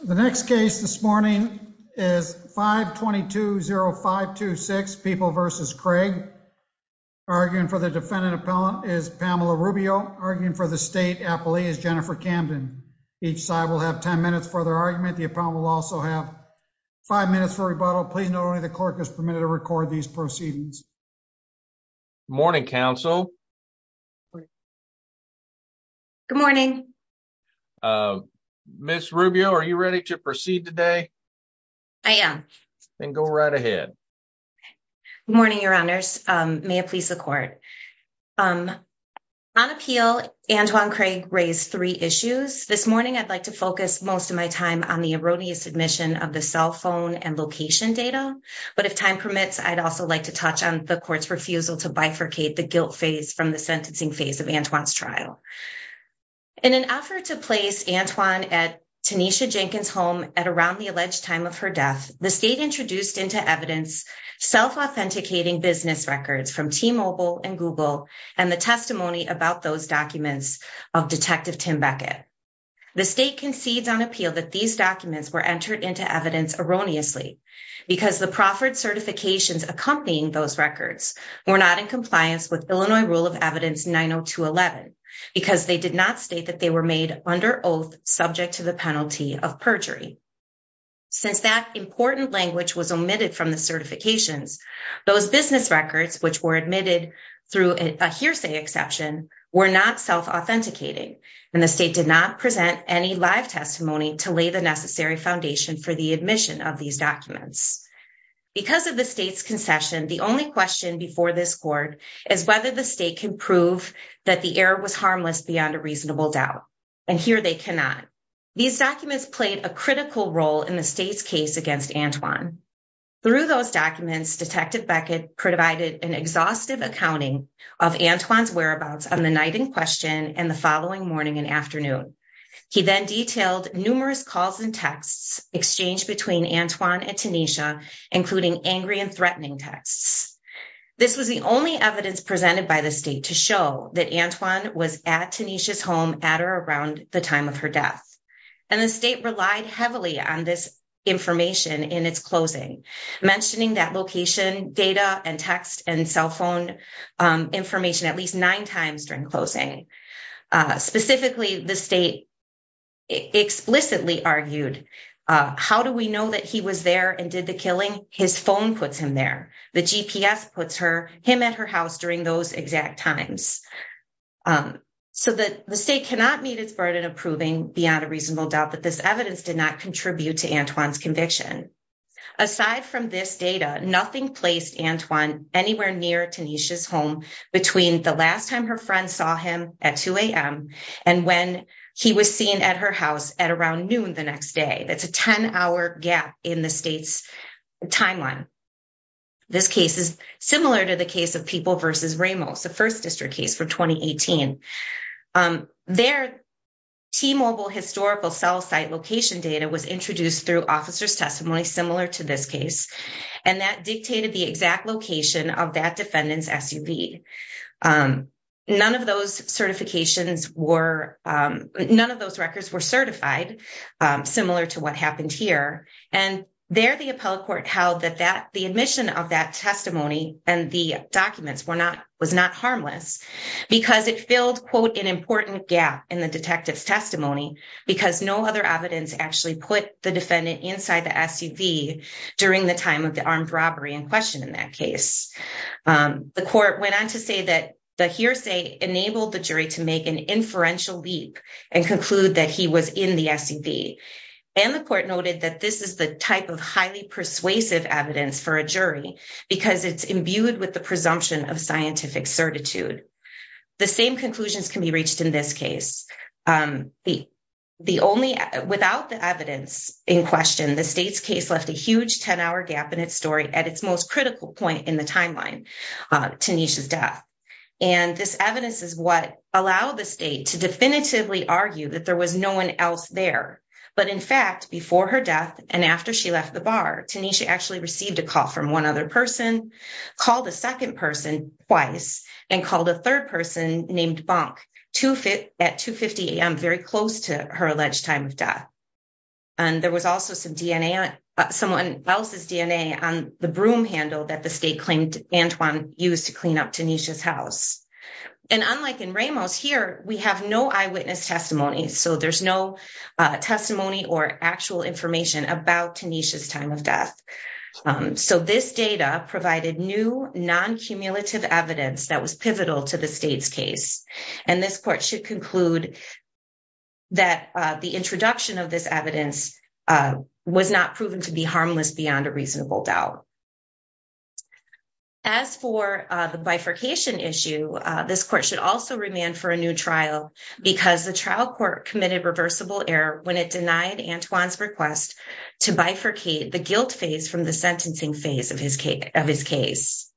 The next case this morning is 522-0526, People v. Craig. Arguing for the defendant appellant is Pamela Rubio. Arguing for the state appellee is Jennifer Camden. Each side will have 10 minutes for their argument. The appellant will also have five minutes for rebuttal. Please note only the clerk is permitted to record these proceedings. Morning, counsel. Good morning. Ms. Rubio, are you ready to proceed today? I am. Then go right ahead. Morning, your honors. May it please the court. On appeal, Antoine Craig raised three issues. This morning, I'd like to focus most of my time on the erroneous submission of the cell phone and location data. But if time permits, I'd like to touch on the court's refusal to bifurcate the guilt phase from the sentencing phase of Antoine's trial. In an effort to place Antoine at Tanisha Jenkins' home at around the alleged time of her death, the state introduced into evidence self-authenticating business records from T-Mobile and Google and the testimony about those documents of Detective Tim Beckett. The state concedes on appeal that these documents were entered into evidence erroneously because the proffered certifications accompanying those records were not in compliance with Illinois Rule of Evidence 90211 because they did not state that they were made under oath subject to the penalty of perjury. Since that important language was omitted from the certifications, those business records, which were admitted through a hearsay exception, were not self-authenticating and the state did not present any live testimony to lay the necessary foundation for the admission of these documents. Because of the state's concession, the only question before this court is whether the state can prove that the error was harmless beyond a reasonable doubt, and here they cannot. These documents played a critical role in the state's case against Antoine. Through those documents, Detective Beckett provided an exhaustive accounting of Antoine's whereabouts on the night in question and the following morning and afternoon. He then detailed numerous calls and texts exchanged between Antoine and Tanisha, including angry and threatening texts. This was the only evidence presented by the state to show that Antoine was at Tanisha's home at or around the time of her death, and the state relied heavily on this information in its closing, mentioning that location, data, and text, and cell phone information at least nine times during closing. Specifically, the state explicitly argued, how do we know that he was there and did the killing? His phone puts him there, the GPS puts him at her house during those exact times. So the state cannot meet its burden of proving beyond a reasonable doubt that this evidence did not contribute to Antoine's between the last time her friend saw him at 2 a.m. and when he was seen at her house at around noon the next day. That's a 10-hour gap in the state's timeline. This case is similar to the case of People v. Ramos, the first district case for 2018. Their T-Mobile historical cell site location data was introduced through officer's testimony similar to this case, and that dictated the exact location of that defendant's SUV. None of those records were certified, similar to what happened here, and there the appellate court held that the admission of that testimony and the documents was not harmless because it filled, quote, an important gap in the detective's testimony because no other evidence actually put the defendant inside the SUV during the time of armed robbery in question in that case. The court went on to say that the hearsay enabled the jury to make an inferential leap and conclude that he was in the SUV, and the court noted that this is the type of highly persuasive evidence for a jury because it's imbued with the presumption of scientific certitude. The same conclusions can be reached in this case. Without the evidence in question, the state's case left a huge 10-hour gap in its story at its most critical point in the timeline, Tanisha's death, and this evidence is what allowed the state to definitively argue that there was no one else there, but in fact, before her death and after she left the bar, Tanisha actually received a call from one other person, called a second person twice, and called a third person named Bonk at 2.50 a.m., very close to her alleged time of death, and there was also someone else's DNA on the broom handle that the state claimed Antoine used to clean up Tanisha's house, and unlike in Ramos, here we have no eyewitness testimony, so there's no testimony or actual information about Tanisha's time of death, so this data provided new non-cumulative evidence that was pivotal to the state's case, and this court should conclude that the introduction of this evidence was not proven to be harmless beyond a reasonable doubt. As for the bifurcation issue, this court should also remand for a new trial because the trial court committed reversible error when it denied Antoine's request to bifurcate the guilt phase from the sentencing phase of his case.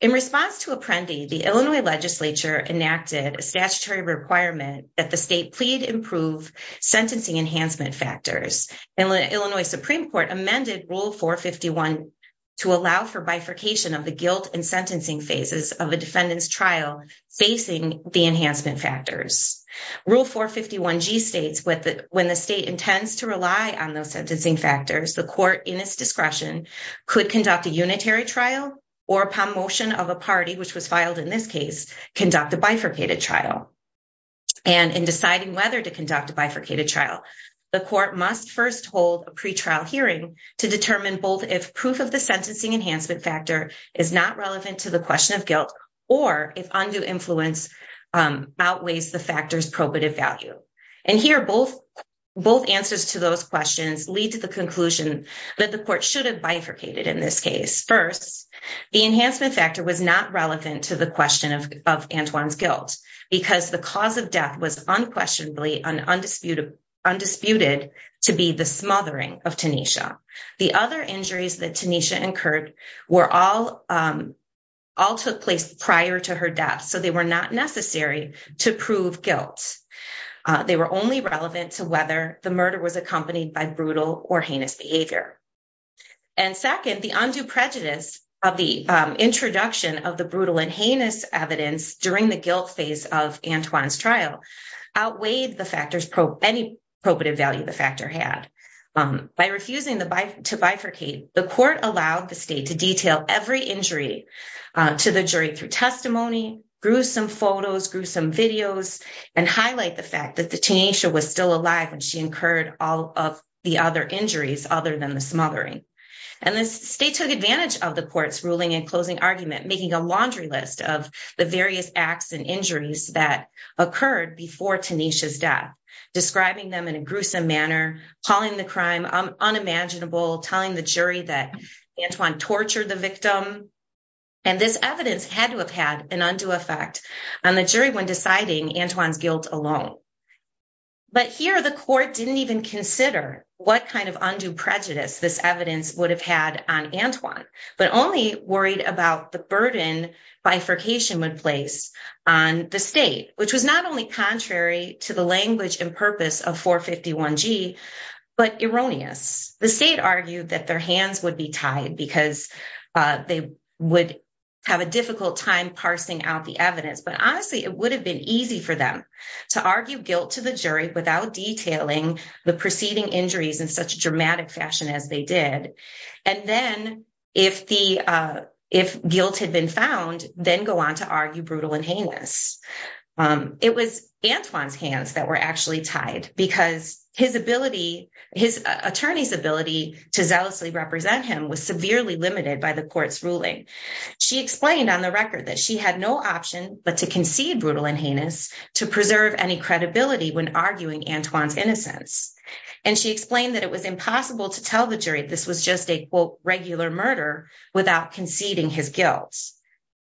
In response to Apprendi, the Illinois legislature enacted a statutory requirement that the state plead improve sentencing enhancement factors, and the Illinois Supreme Court amended Rule 451 to allow for bifurcation of the guilt and sentencing phases of a defendant's trial facing the enhancement factors. Rule 451g states when the state intends to rely on those sentencing factors, the court in its discretion could conduct a unitary trial or upon motion of a party, which was filed in this case, conduct a bifurcated trial, and in deciding whether to conduct a bifurcated trial, the court must first hold a pretrial hearing to determine both if proof of the sentencing enhancement factor is not relevant to the question of guilt or if undue influence outweighs the both answers to those questions lead to the conclusion that the court should have bifurcated in this case. First, the enhancement factor was not relevant to the question of Antoine's guilt because the cause of death was unquestionably undisputed to be the smothering of Tanisha. The other injuries that Tanisha incurred were all took place prior to her death, so they were not necessary to prove guilt. They were only relevant to whether the murder was accompanied by brutal or heinous behavior. And second, the undue prejudice of the introduction of the brutal and heinous evidence during the guilt phase of Antoine's trial outweighed any probative value the factor had. By refusing to bifurcate, the court allowed the state to detail every injury to the jury through testimony, gruesome photos, gruesome videos, and highlight the fact that the Tanisha was still alive when she incurred all of the other injuries other than the smothering. And the state took advantage of the court's ruling and closing argument, making a laundry list of the various acts and injuries that occurred before Tanisha's death, describing them in a gruesome manner, calling the crime unimaginable, telling the jury that Tanisha was a victim, and this evidence had to have had an undue effect on the jury when deciding Antoine's guilt alone. But here, the court didn't even consider what kind of undue prejudice this evidence would have had on Antoine, but only worried about the burden bifurcation would place on the state, which was not only contrary to the language and purpose of 451G, but erroneous. The hands would be tied because they would have a difficult time parsing out the evidence. But honestly, it would have been easy for them to argue guilt to the jury without detailing the preceding injuries in such a dramatic fashion as they did. And then, if guilt had been found, then go on to argue brutal and heinous. It was Antoine's hands that were actually tied because his ability, his attorney's ability to zealously represent him was severely limited by the court's ruling. She explained on the record that she had no option but to concede brutal and heinous to preserve any credibility when arguing Antoine's innocence. And she explained that it was impossible to tell the jury this was just a, quote, regular murder without conceding his guilt.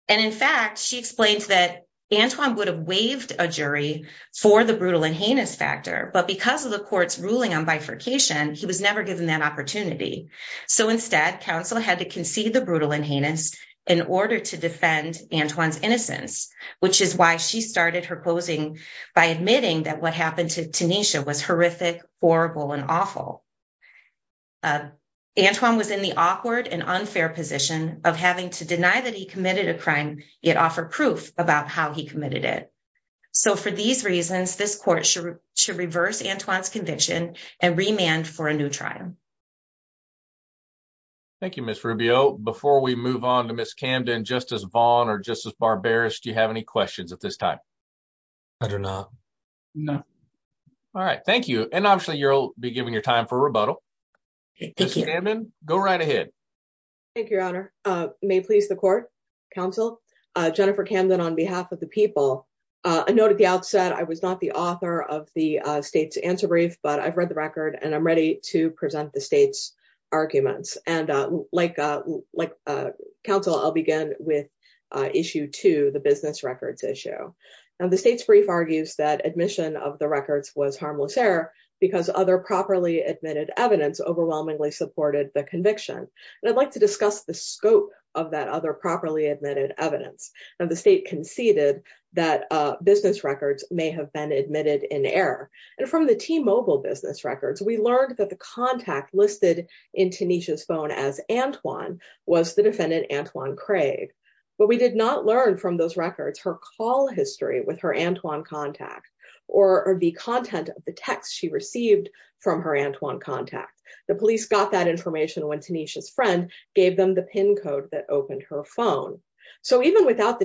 And in fact, she explained that Antoine would have waived a jury for the brutal and heinous factor, but because of the court's ruling on bifurcation, he was never given that opportunity. So instead, counsel had to concede the brutal and heinous in order to defend Antoine's innocence, which is why she started her closing by admitting that what happened to Tanisha was horrific, horrible, and awful. Antoine was in the awkward and unfair position of having to deny that he committed a crime, yet offer proof about how he committed it. So for these reasons, this court should reverse Antoine's conviction and remand for a new trial. Thank you, Ms. Rubio. Before we move on to Ms. Camden, Justice Vaughn or Justice Barberis, do you have any questions at this time? I do not. No. All right. Thank you. And obviously, you'll be given your time for rebuttal. Thank you. Ms. Camden, go right ahead. Thank you, Your Honor. May it please the court, counsel, Jennifer Camden on behalf of the people. A note at the outset, I was not the author of the state's answer brief, but I've read the record and I'm ready to present the state's arguments. And like counsel, I'll begin with issue two, the business records issue. Now the state's brief argues that admission of the records was harmless error because other properly admitted evidence overwhelmingly supported the conviction. And I'd like to discuss the scope of that other properly admitted evidence. The state conceded that business records may have been admitted in error. And from the T-Mobile business records, we learned that the contact listed in Tanisha's phone as Antoine was the defendant Antoine Craig. But we did not learn from those records her call history with her Antoine contact or the content of the text she received from her Antoine contact. The police got that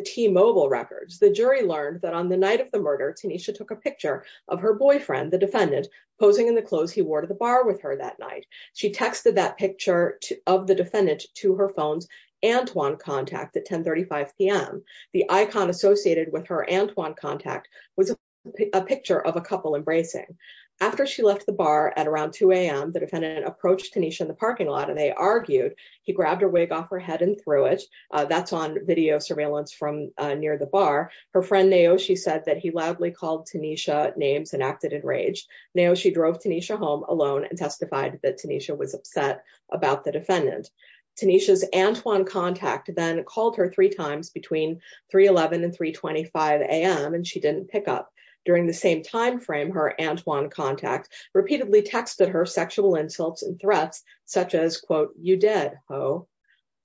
T-Mobile records. The jury learned that on the night of the murder, Tanisha took a picture of her boyfriend, the defendant, posing in the clothes he wore to the bar with her that night. She texted that picture of the defendant to her phone's Antoine contact at 1035 p.m. The icon associated with her Antoine contact was a picture of a couple embracing. After she left the bar at around 2 a.m., the defendant approached Tanisha in the parking lot and they argued. He grabbed her wig off her head and threw it. That's on video surveillance from near the bar. Her friend Naoshi said that he loudly called Tanisha names and acted enraged. Naoshi drove Tanisha home alone and testified that Tanisha was upset about the defendant. Tanisha's Antoine contact then called her three times between 311 and 325 a.m. and she didn't pick up. During the same time frame, her Antoine contact repeatedly texted her sexual insults and threats such as, quote, you did, ho.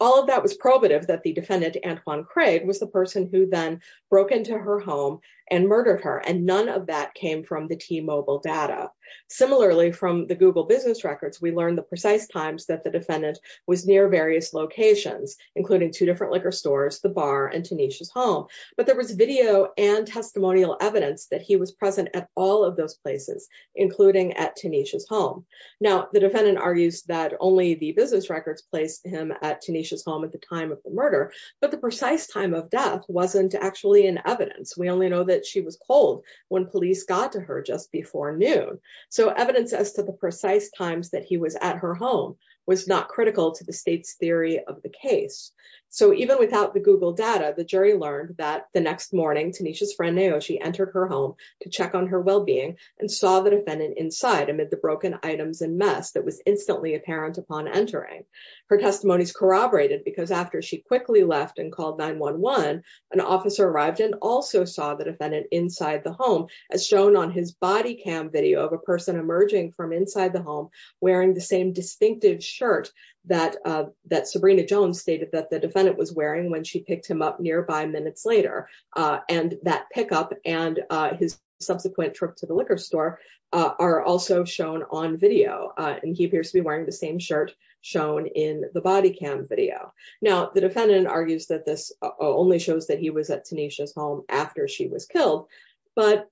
All of that was probative that the defendant Antoine Craig was the person who then broke into her home and murdered her, and none of that came from the T-Mobile data. Similarly, from the Google business records, we learned the precise times that the defendant was near various locations, including two different liquor stores, the bar, and Tanisha's home. But there was video and testimonial evidence that he was present at all of those places, including at Tanisha's home. Now, the defendant argues that only the business records placed him at Tanisha's home at the time of the murder, but the precise time of death wasn't actually in evidence. We only know that she was cold when police got to her just before noon. So, evidence as to the precise times that he was at her home was not critical to the state's theory of the case. So, even without the Google data, the jury learned that the next morning Tanisha's on her well-being and saw the defendant inside amid the broken items and mess that was instantly apparent upon entering. Her testimonies corroborated because after she quickly left and called 911, an officer arrived and also saw the defendant inside the home, as shown on his body cam video of a person emerging from inside the home wearing the same distinctive shirt that Sabrina Jones stated that the defendant was wearing when she picked him up his subsequent trip to the liquor store are also shown on video. And he appears to be wearing the same shirt shown in the body cam video. Now, the defendant argues that this only shows that he was at Tanisha's home after she was killed, but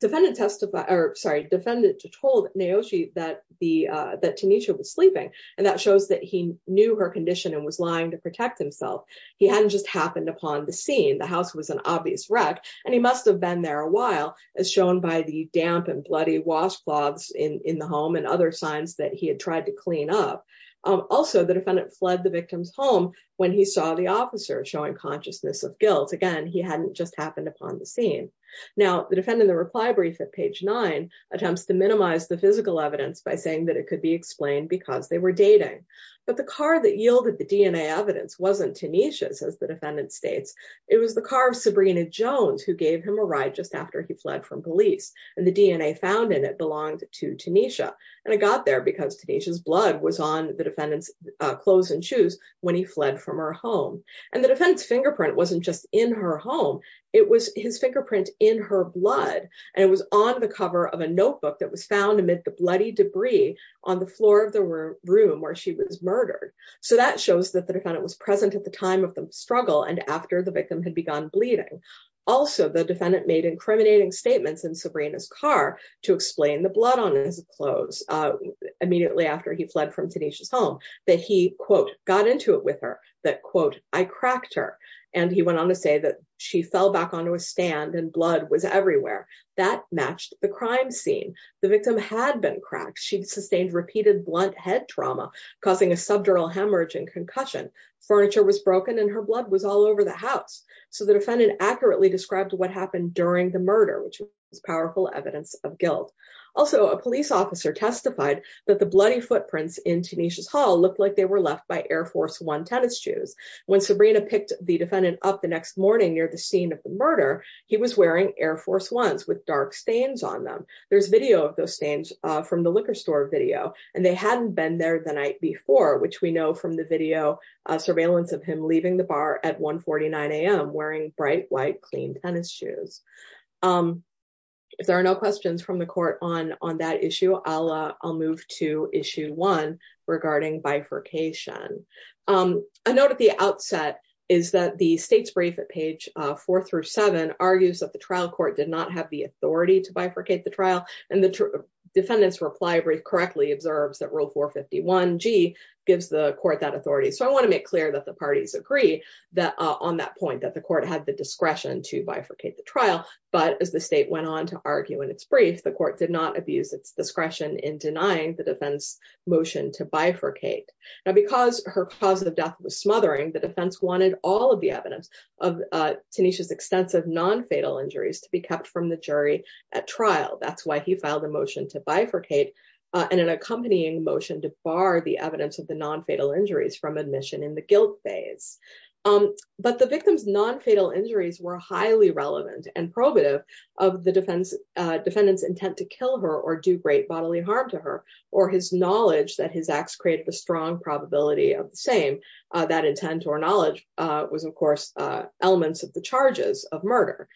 defendant testified, or sorry, defendant told Naochi that the, that Tanisha was sleeping. And that shows that he knew her condition and was lying to protect himself. He hadn't just happened upon the scene. The house was an obvious wreck and he must've been there a while as shown by the damp and bloody washcloths in the home and other signs that he had tried to clean up. Also the defendant fled the victim's home when he saw the officer showing consciousness of guilt. Again, he hadn't just happened upon the scene. Now the defendant, the reply brief at page nine attempts to minimize the physical evidence by saying that it could be explained because they were dating, but the car that yielded the DNA evidence wasn't as the defendant states. It was the car of Sabrina Jones who gave him a ride just after he fled from police and the DNA found in it belonged to Tanisha. And it got there because Tanisha's blood was on the defendant's clothes and shoes when he fled from her home. And the defense fingerprint wasn't just in her home. It was his fingerprint in her blood. And it was on the cover of a notebook that was found amid the bloody debris on the floor of the room where she was murdered. So that shows that the defendant was present at the time of the struggle and after the victim had begun bleeding. Also the defendant made incriminating statements in Sabrina's car to explain the blood on his clothes immediately after he fled from Tanisha's home that he quote, got into it with her that quote, I cracked her. And he went on to say that she fell back onto a stand and blood was everywhere that matched the crime scene. The victim had been cracked. She'd sustained repeated blunt head trauma causing a subdural hemorrhaging concussion. Furniture was broken and her blood was all over the house. So the defendant accurately described what happened during the murder which was powerful evidence of guilt. Also a police officer testified that the bloody footprints in Tanisha's hall looked like they were left by Air Force One tennis shoes. When Sabrina picked the defendant up the next morning near the scene of the murder, he was wearing Air Force Ones with dark stains on them. There's video of those stains from the liquor store video and they hadn't been there the night before, which we know from the video surveillance of him leaving the bar at 1 49 AM wearing bright white, clean tennis shoes. If there are no questions from the court on that issue, I'll move to issue one regarding bifurcation. A note at the outset is that the state's brief at page four through seven argues that the trial court did not have the authority to bifurcate the trial and the defendant's reply brief correctly observes that rule 451 G gives the court that authority. So I want to make clear that the parties agree that on that point that the court had the discretion to bifurcate the trial, but as the state went on to argue in its brief, the court did not abuse its discretion in denying the defense motion to bifurcate. Now because her cause of death was Tanisha's extensive non-fatal injuries to be kept from the jury at trial, that's why he filed a motion to bifurcate and an accompanying motion to bar the evidence of the non-fatal injuries from admission in the guilt phase. But the victim's non-fatal injuries were highly relevant and probative of the defendant's intent to kill her or do great bodily harm to her or his knowledge that his acts create the strong probability of the same. That intent or knowledge was of course elements of the charges of murder.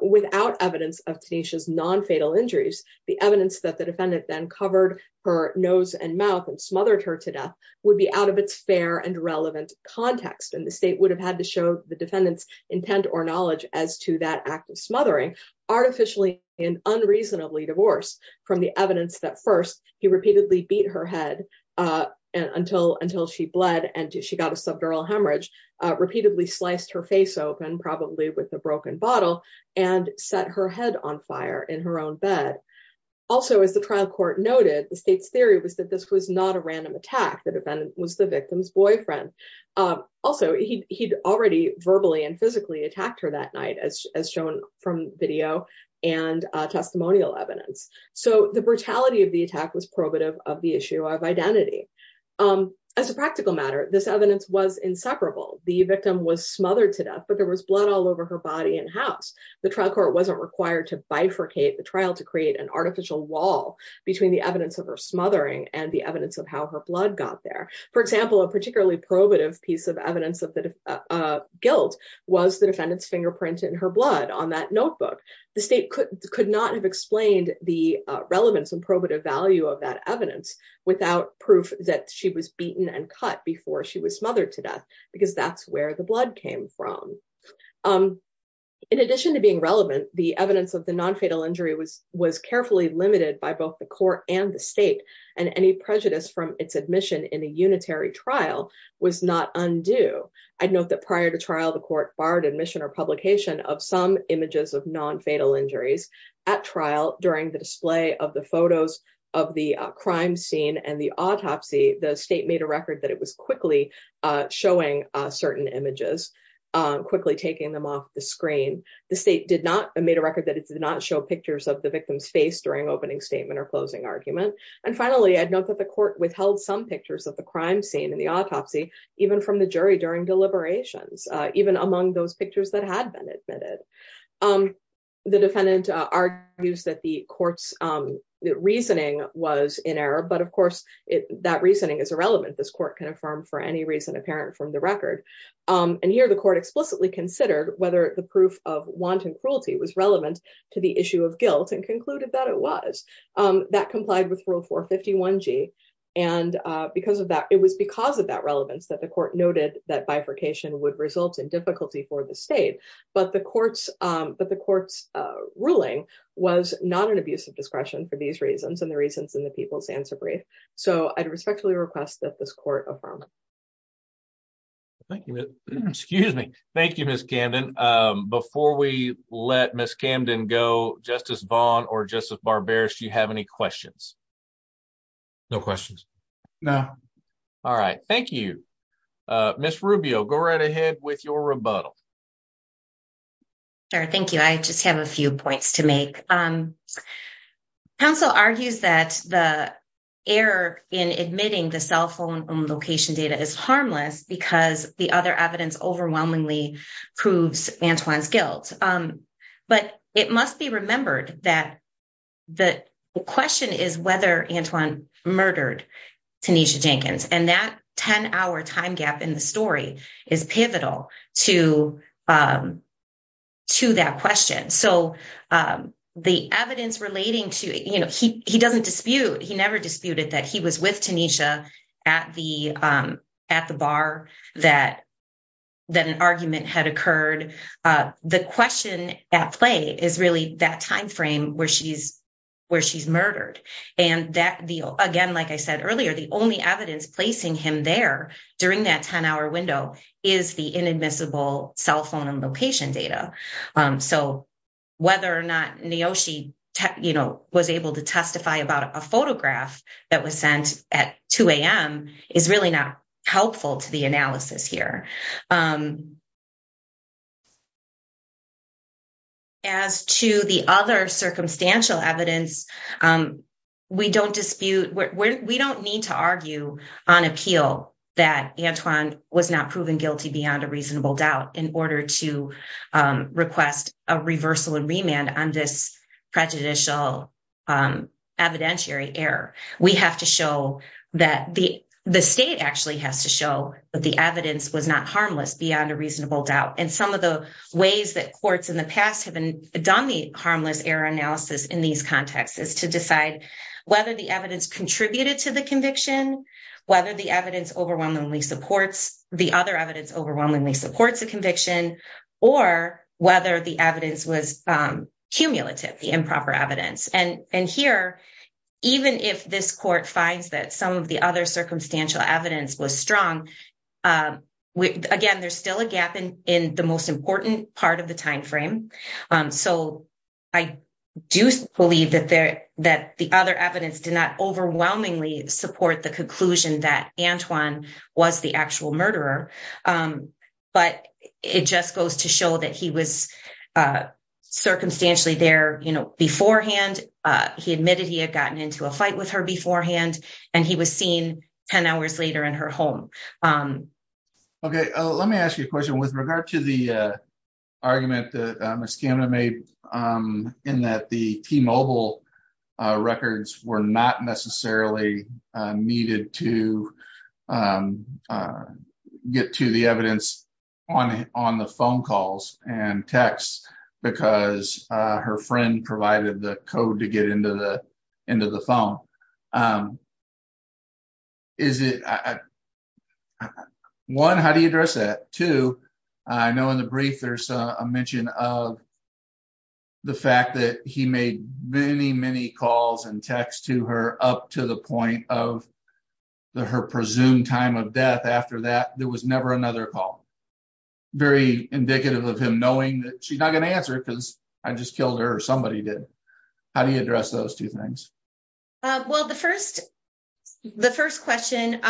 Without evidence of Tanisha's non-fatal injuries, the evidence that the defendant then covered her nose and mouth and smothered her to death would be out of its fair and relevant context and the state would have had to show the defendant's intent or knowledge as to that act of smothering artificially and unreasonably divorced from the evidence that first he repeatedly beat her head until she bled and she got a subdural hemorrhage, repeatedly sliced her face open probably with a broken bottle and set her head on fire in her own bed. Also as the trial court noted, the state's theory was that this was not a random attack, the defendant was the victim's boyfriend. Also he'd already verbally and physically attacked her that night as shown from video and testimonial evidence. So the brutality of the attack was of identity. As a practical matter, this evidence was inseparable. The victim was smothered to death but there was blood all over her body and house. The trial court wasn't required to bifurcate the trial to create an artificial wall between the evidence of her smothering and the evidence of how her blood got there. For example, a particularly probative piece of evidence of the guilt was the defendant's fingerprint in her blood on that notebook. The state could not have explained the relevance and probative value of that evidence without proof that she was beaten and cut before she was smothered to death because that's where the blood came from. In addition to being relevant, the evidence of the non-fatal injury was was carefully limited by both the court and the state and any prejudice from its admission in a unitary trial was not undue. I'd note that prior to trial the court barred admission or publication of some images of non-fatal injuries at trial during the display of the photos of the crime scene and the autopsy. The state made a record that it was quickly showing certain images, quickly taking them off the screen. The state did not made a record that it did not show pictures of the victim's face during opening statement or closing argument. And finally, I'd note that the court withheld some pictures of the crime scene in the autopsy even from the jury during deliberations, even among those pictures that had been admitted. The defendant argues that the court's reasoning was in error, but of course that reasoning is irrelevant. This court can affirm for any reason apparent from the record. And here the court explicitly considered whether the proof of wanton cruelty was relevant to the issue of guilt and concluded that it was. That complied with rule 451g and because of that, it was because of that the court noted that bifurcation would result in difficulty for the state, but the court's ruling was not an abuse of discretion for these reasons and the reasons in the people's answer brief. So I'd respectfully request that this court affirm. Thank you. Excuse me. Thank you, Ms. Camden. Before we let Ms. Camden go, Justice Vaughn or Justice Barberis, do you have any questions? No questions. No. All right. Thank you. Ms. Rubio, go right ahead with your rebuttal. Sure. Thank you. I just have a few points to make. Counsel argues that the error in admitting the cell phone location data is harmless because the other evidence overwhelmingly proves Antoine's guilt. But it must be remembered that the question is whether Antoine murdered Tanisha Jenkins and that 10-hour time gap in the story is pivotal to that question. So the evidence relating to, you know, he doesn't dispute, he never disputed that he was with Tanisha at the bar that an argument had occurred. The question at play is really that time frame where she's murdered. And again, like I said earlier, the only evidence placing him there during that 10-hour window is the inadmissible cell phone and location data. So whether or not Niyoshi was able to testify about a photograph that was sent at 2 a.m. is really not helpful to the analysis here. As to the other circumstantial evidence, we don't dispute, we don't need to argue on appeal that Antoine was not proven guilty beyond a reasonable doubt in order to request a reversal and remand on this prejudicial evidentiary error. We have to show that the state actually has to show that the evidence was not harmless beyond a reasonable doubt. And some of the ways that courts in the past have done the harmless error analysis in these contexts is to decide whether the evidence contributed to the conviction, whether the other evidence overwhelmingly supports a conviction, or whether the evidence was cumulative, the improper evidence. And here, even if this court finds that some of the other circumstantial evidence was strong, again, there's still a gap in the most important part of the time frame. So I do believe that the other evidence did not overwhelmingly support the conclusion that Antoine was the actual murderer, but it just goes to show that he was circumstantially there beforehand, he admitted he had gotten into a fight with her beforehand, and he was seen 10 hours later in her home. ≫ Okay. Let me ask you a question. With regard to the argument that Ms. Camden made in that the T-Mobile records were not necessarily needed to get to the evidence on the phone calls and texts because her friend provided the code to get into the phone, is it, one, how do you address that? Two, I know in the brief there's a mention of the fact that he made many, many calls and texts to her up to the point of her presumed time of death after that. There was never another call. Very indicative of him knowing that she's not going to answer because I just killed her or somebody did. How do you address those two things? ≫ Well, the first question,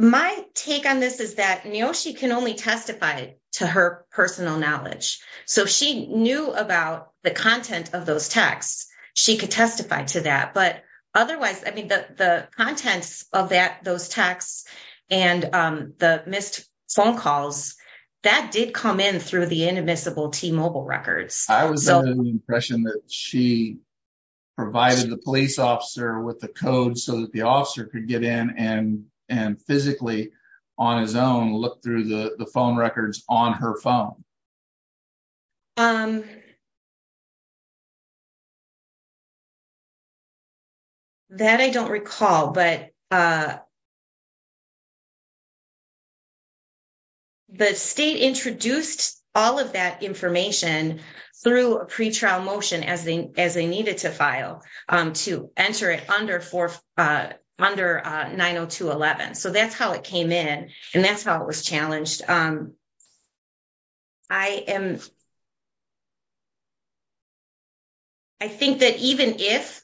my take on this is that Niyoshi can only testify to her personal knowledge. So if she knew about the content of those texts, she could testify to that. But otherwise, I mean, the contents of those texts and the missed phone calls, that did come in through the inadmissible T-Mobile records. ≫ I was under the impression that she provided the police officer with the code so that the officer could get in and physically on his own look through the phone records on her phone. ≫ That I don't recall. But the state introduced all of that information through a pretrial motion as they needed to file to enter it under 902.11. So that's how it came in and that's how it was challenged. ≫ I am, I think that even if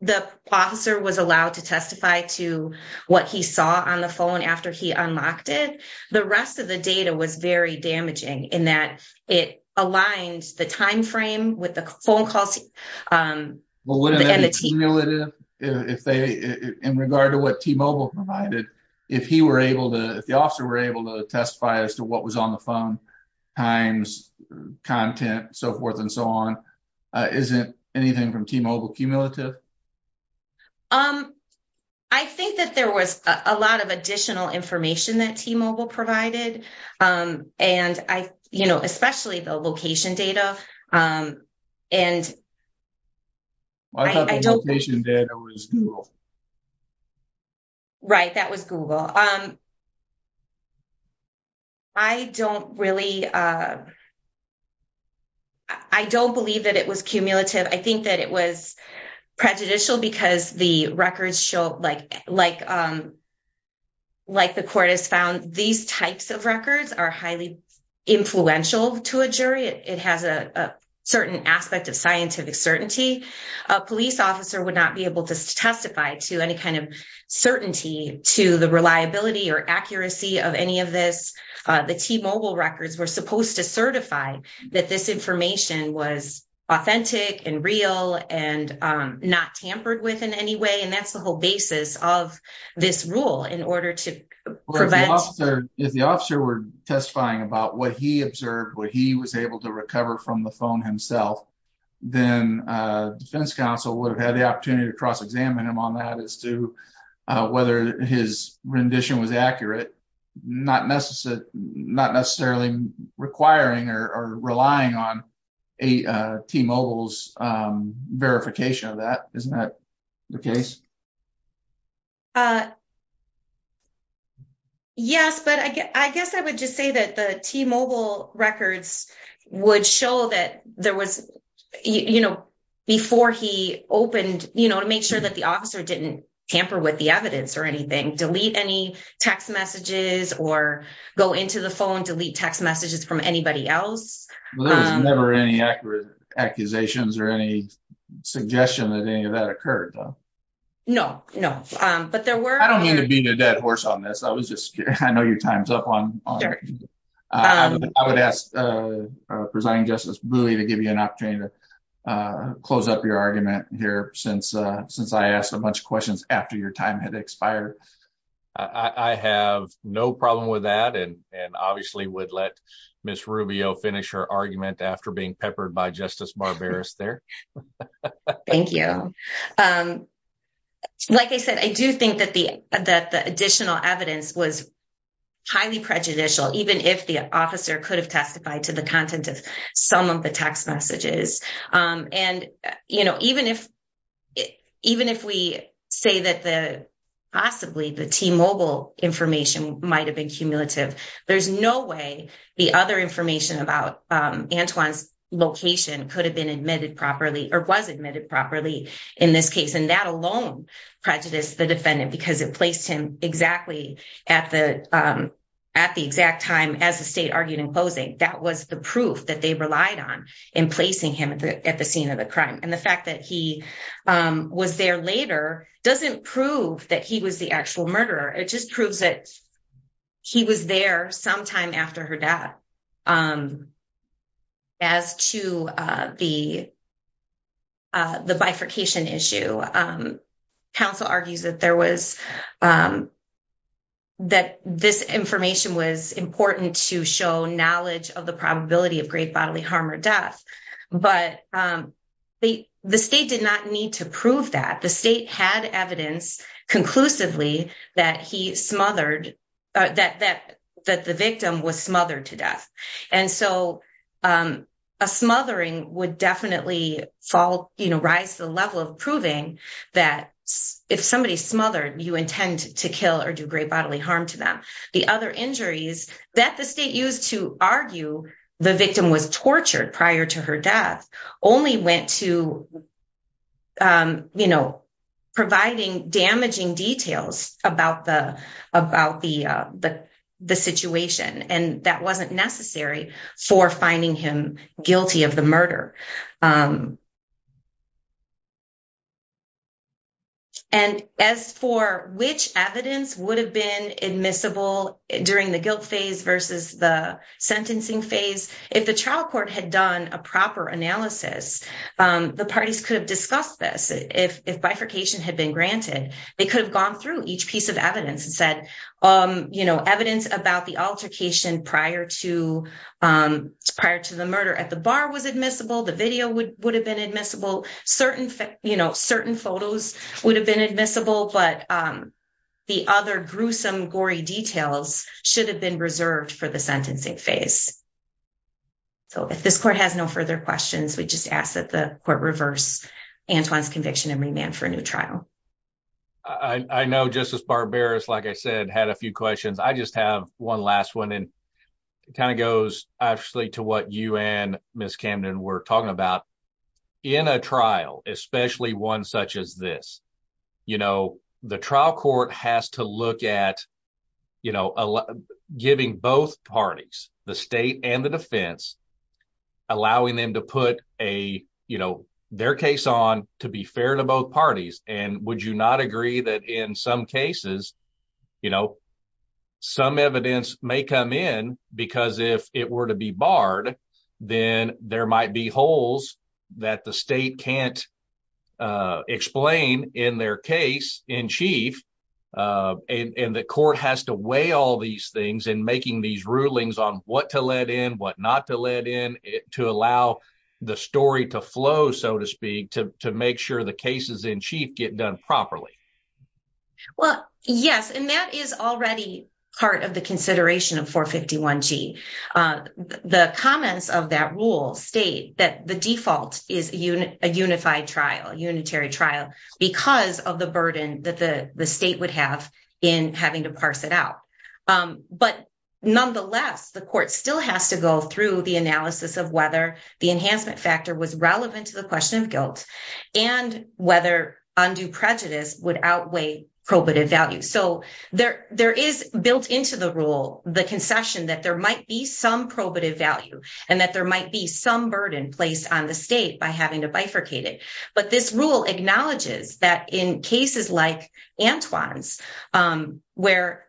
the officer was allowed to testify to what he saw on the phone after he unlocked it, the rest of the data was very damaging in that it aligned the time frame with the phone calls. ≫ In regard to what T-Mobile provided, if he were able to, if the officer were able to testify as to what was on the phone, times, content, so forth and so on, is it anything from T-Mobile cumulative? ≫ I think that there was a lot of additional information that T-Mobile provided. And especially the location data. ≫ I thought the location data was Google. ≫ Right, that was Google. I don't really, I don't believe that it was cumulative. I think that it was prejudicial because the records show like the court has found, these types of records are highly influential to a jury. It has a certain aspect of scientific certainty. A police officer would not be able to testify to any kind of certainty to the reliability or accuracy of any of this. The T-Mobile records were supposed to certify that this information was authentic and real and not tampered with in any way and that's the whole basis of this rule in order to prevent. ≫ If the officer were testifying about what he observed, what he was able to recover from the phone himself, then defense counsel would have had the opportunity to cross examine him on that as to whether his rendition was accurate. Not necessarily requiring or relying on T-Mobile's verification of that. Isn't that the case? ≫ Yes, but I guess I would just say that the T-Mobile records would show that there was, you know, before he opened, you know, to make sure that the officer didn't tamper with the evidence or anything, delete any text messages or go into the phone, delete text messages from the T-Mobile records. ≫ There was never any accusations or any suggestion that any of that occurred, though? ≫ No, no. But there were. ≫ I don't mean to beat a dead horse on this. I was just curious. I know your time is up. I would ask presiding justice Booey to give you an opportunity to close up your argument here since I asked a bunch of questions after your time had expired. ≫ I have no problem with that and obviously would let Ms. Rubio finish her argument after being peppered by Justice Barberis there. ≫ Thank you. Like I said, I do think that the additional evidence was highly prejudicial, even if the officer could have testified to the content of some of the text messages. And, you know, even if we say that possibly the T-Mobile information might have been cumulative, there's no way the other information about Antoine's location could have been admitted properly or was admitted properly in this case. And that alone prejudiced the defendant because it placed him exactly at the exact time as the state argued in closing. That was the proof that they relied on in placing him at the scene of the crime. And the fact that he was there later doesn't prove that he was the actual murderer. It just proves that he was there sometime after her death. As to the bifurcation issue, counsel argues that this information was important to show knowledge of the probability of great bodily harm or death. But the state did not need to evidence conclusively that the victim was smothered to death. And so a smothering would definitely rise the level of proving that if somebody is smothered, you intend to kill or do great bodily harm to them. The other injuries that the state used to argue the victim was damaging details about the situation. And that wasn't necessary for finding him guilty of the murder. And as for which evidence would have been admissible during the guilt phase versus the sentencing phase, if the trial court had done a proper analysis, the parties could have discussed this. If bifurcation had been granted, they could have gone through each piece of evidence and said, you know, evidence about the altercation prior to the murder at the bar was admissible, the video would have been admissible, certain photos would have been admissible, but the other gruesome, gory details should have been reserved for the sentencing phase. So if this court has no further questions, we just ask that the court reverse Antoine's conviction and remand for a new trial. I know Justice Barberis, like I said, had a few questions. I just have one last one and it kind of goes actually to what you and Ms. Camden were talking about. In a trial, especially one such as this, you know, the trial court has to look at, you know, giving both parties, the state and the defense, allowing them to put a, you know, their case on to be fair to both parties. And would you not agree that in some cases, you know, some evidence may come in because if it were to be barred, then there might be holes that the state can't explain in their case in chief and the court has to weigh all these things in making these rulings on what to let in, what not to let in, to allow the story to flow, so to speak, to make sure the cases in chief get done properly? Well, yes, and that is already part of the consideration of 451g. The comments of that rule state that the default is a unified trial, a unitary trial, because of the burden that the state would have in having to parse it out. But nonetheless, the court still has to go through the analysis of whether the enhancement factor was relevant to the question of guilt and whether undue prejudice would outweigh probative value. So there is built into the rule the concession that there might be some probative value and that there might be some burden placed on the state by having to bifurcate it. But this rule acknowledges that in cases like Antoine's, where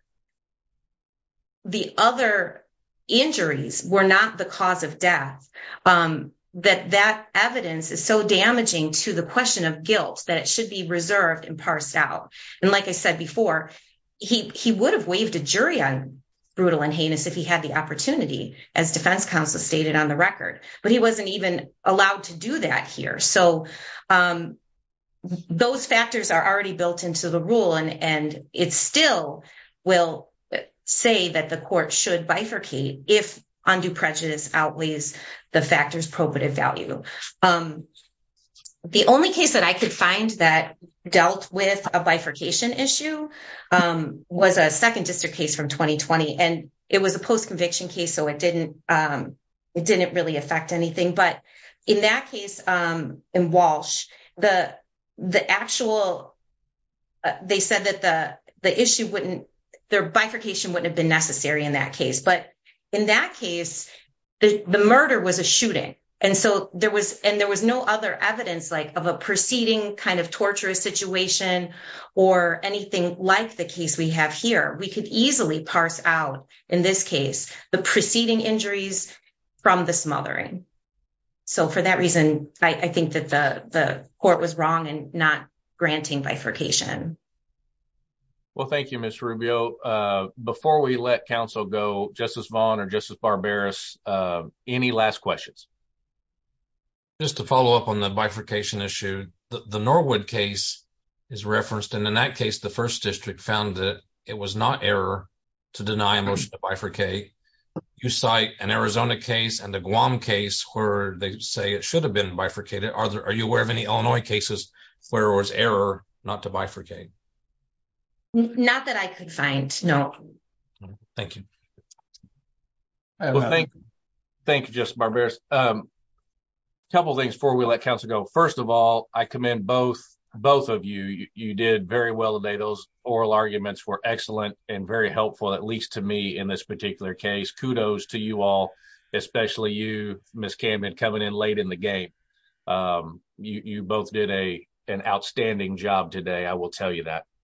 the other injuries were not the cause of death, that that evidence is so damaging to the question of guilt that it should be reserved and parsed out. And like I said before, he would have waived a jury on brutal and heinous if he had the opportunity, as defense counsel stated on the record. But he wasn't even allowed to do that here. So those factors are already built into the rule and it still will say that the court should bifurcate if undue prejudice outweighs the factors probative value. The only case that I could find that dealt with a bifurcation issue was a second district case from 2020. And it was a post-conviction case, so it didn't really affect anything. But in that case in Walsh, they said that their bifurcation wouldn't have been necessary in that case. But in that case, the murder was a shooting. And there was no other evidence of a preceding torturous situation or anything like the case we have here. We could easily parse out in this case the preceding injuries from the smothering. So for that reason, I think that the court was wrong in not granting bifurcation. Well, thank you, Ms. Rubio. Before we let counsel go, Justice Vaughn or Justice Barberis, any last questions? Just to follow up on the bifurcation issue, the Norwood case is referenced. And in that case, the first district found that it was not error to deny a motion to bifurcate. You cite an Arizona case and a Guam case where they say it should have been bifurcated. Are you aware of any Illinois cases where it was error not to bifurcate? Not that I could find, no. Thank you. Thank you, Justice Barberis. A couple of things before we let counsel go. First of all, I commend both of you. You did very well today. Those oral arguments were excellent and very helpful, at least to me, in this particular case. Kudos to you all, especially you, Ms. Camden, coming in late in the game. You both did an outstanding job today, I will tell you that.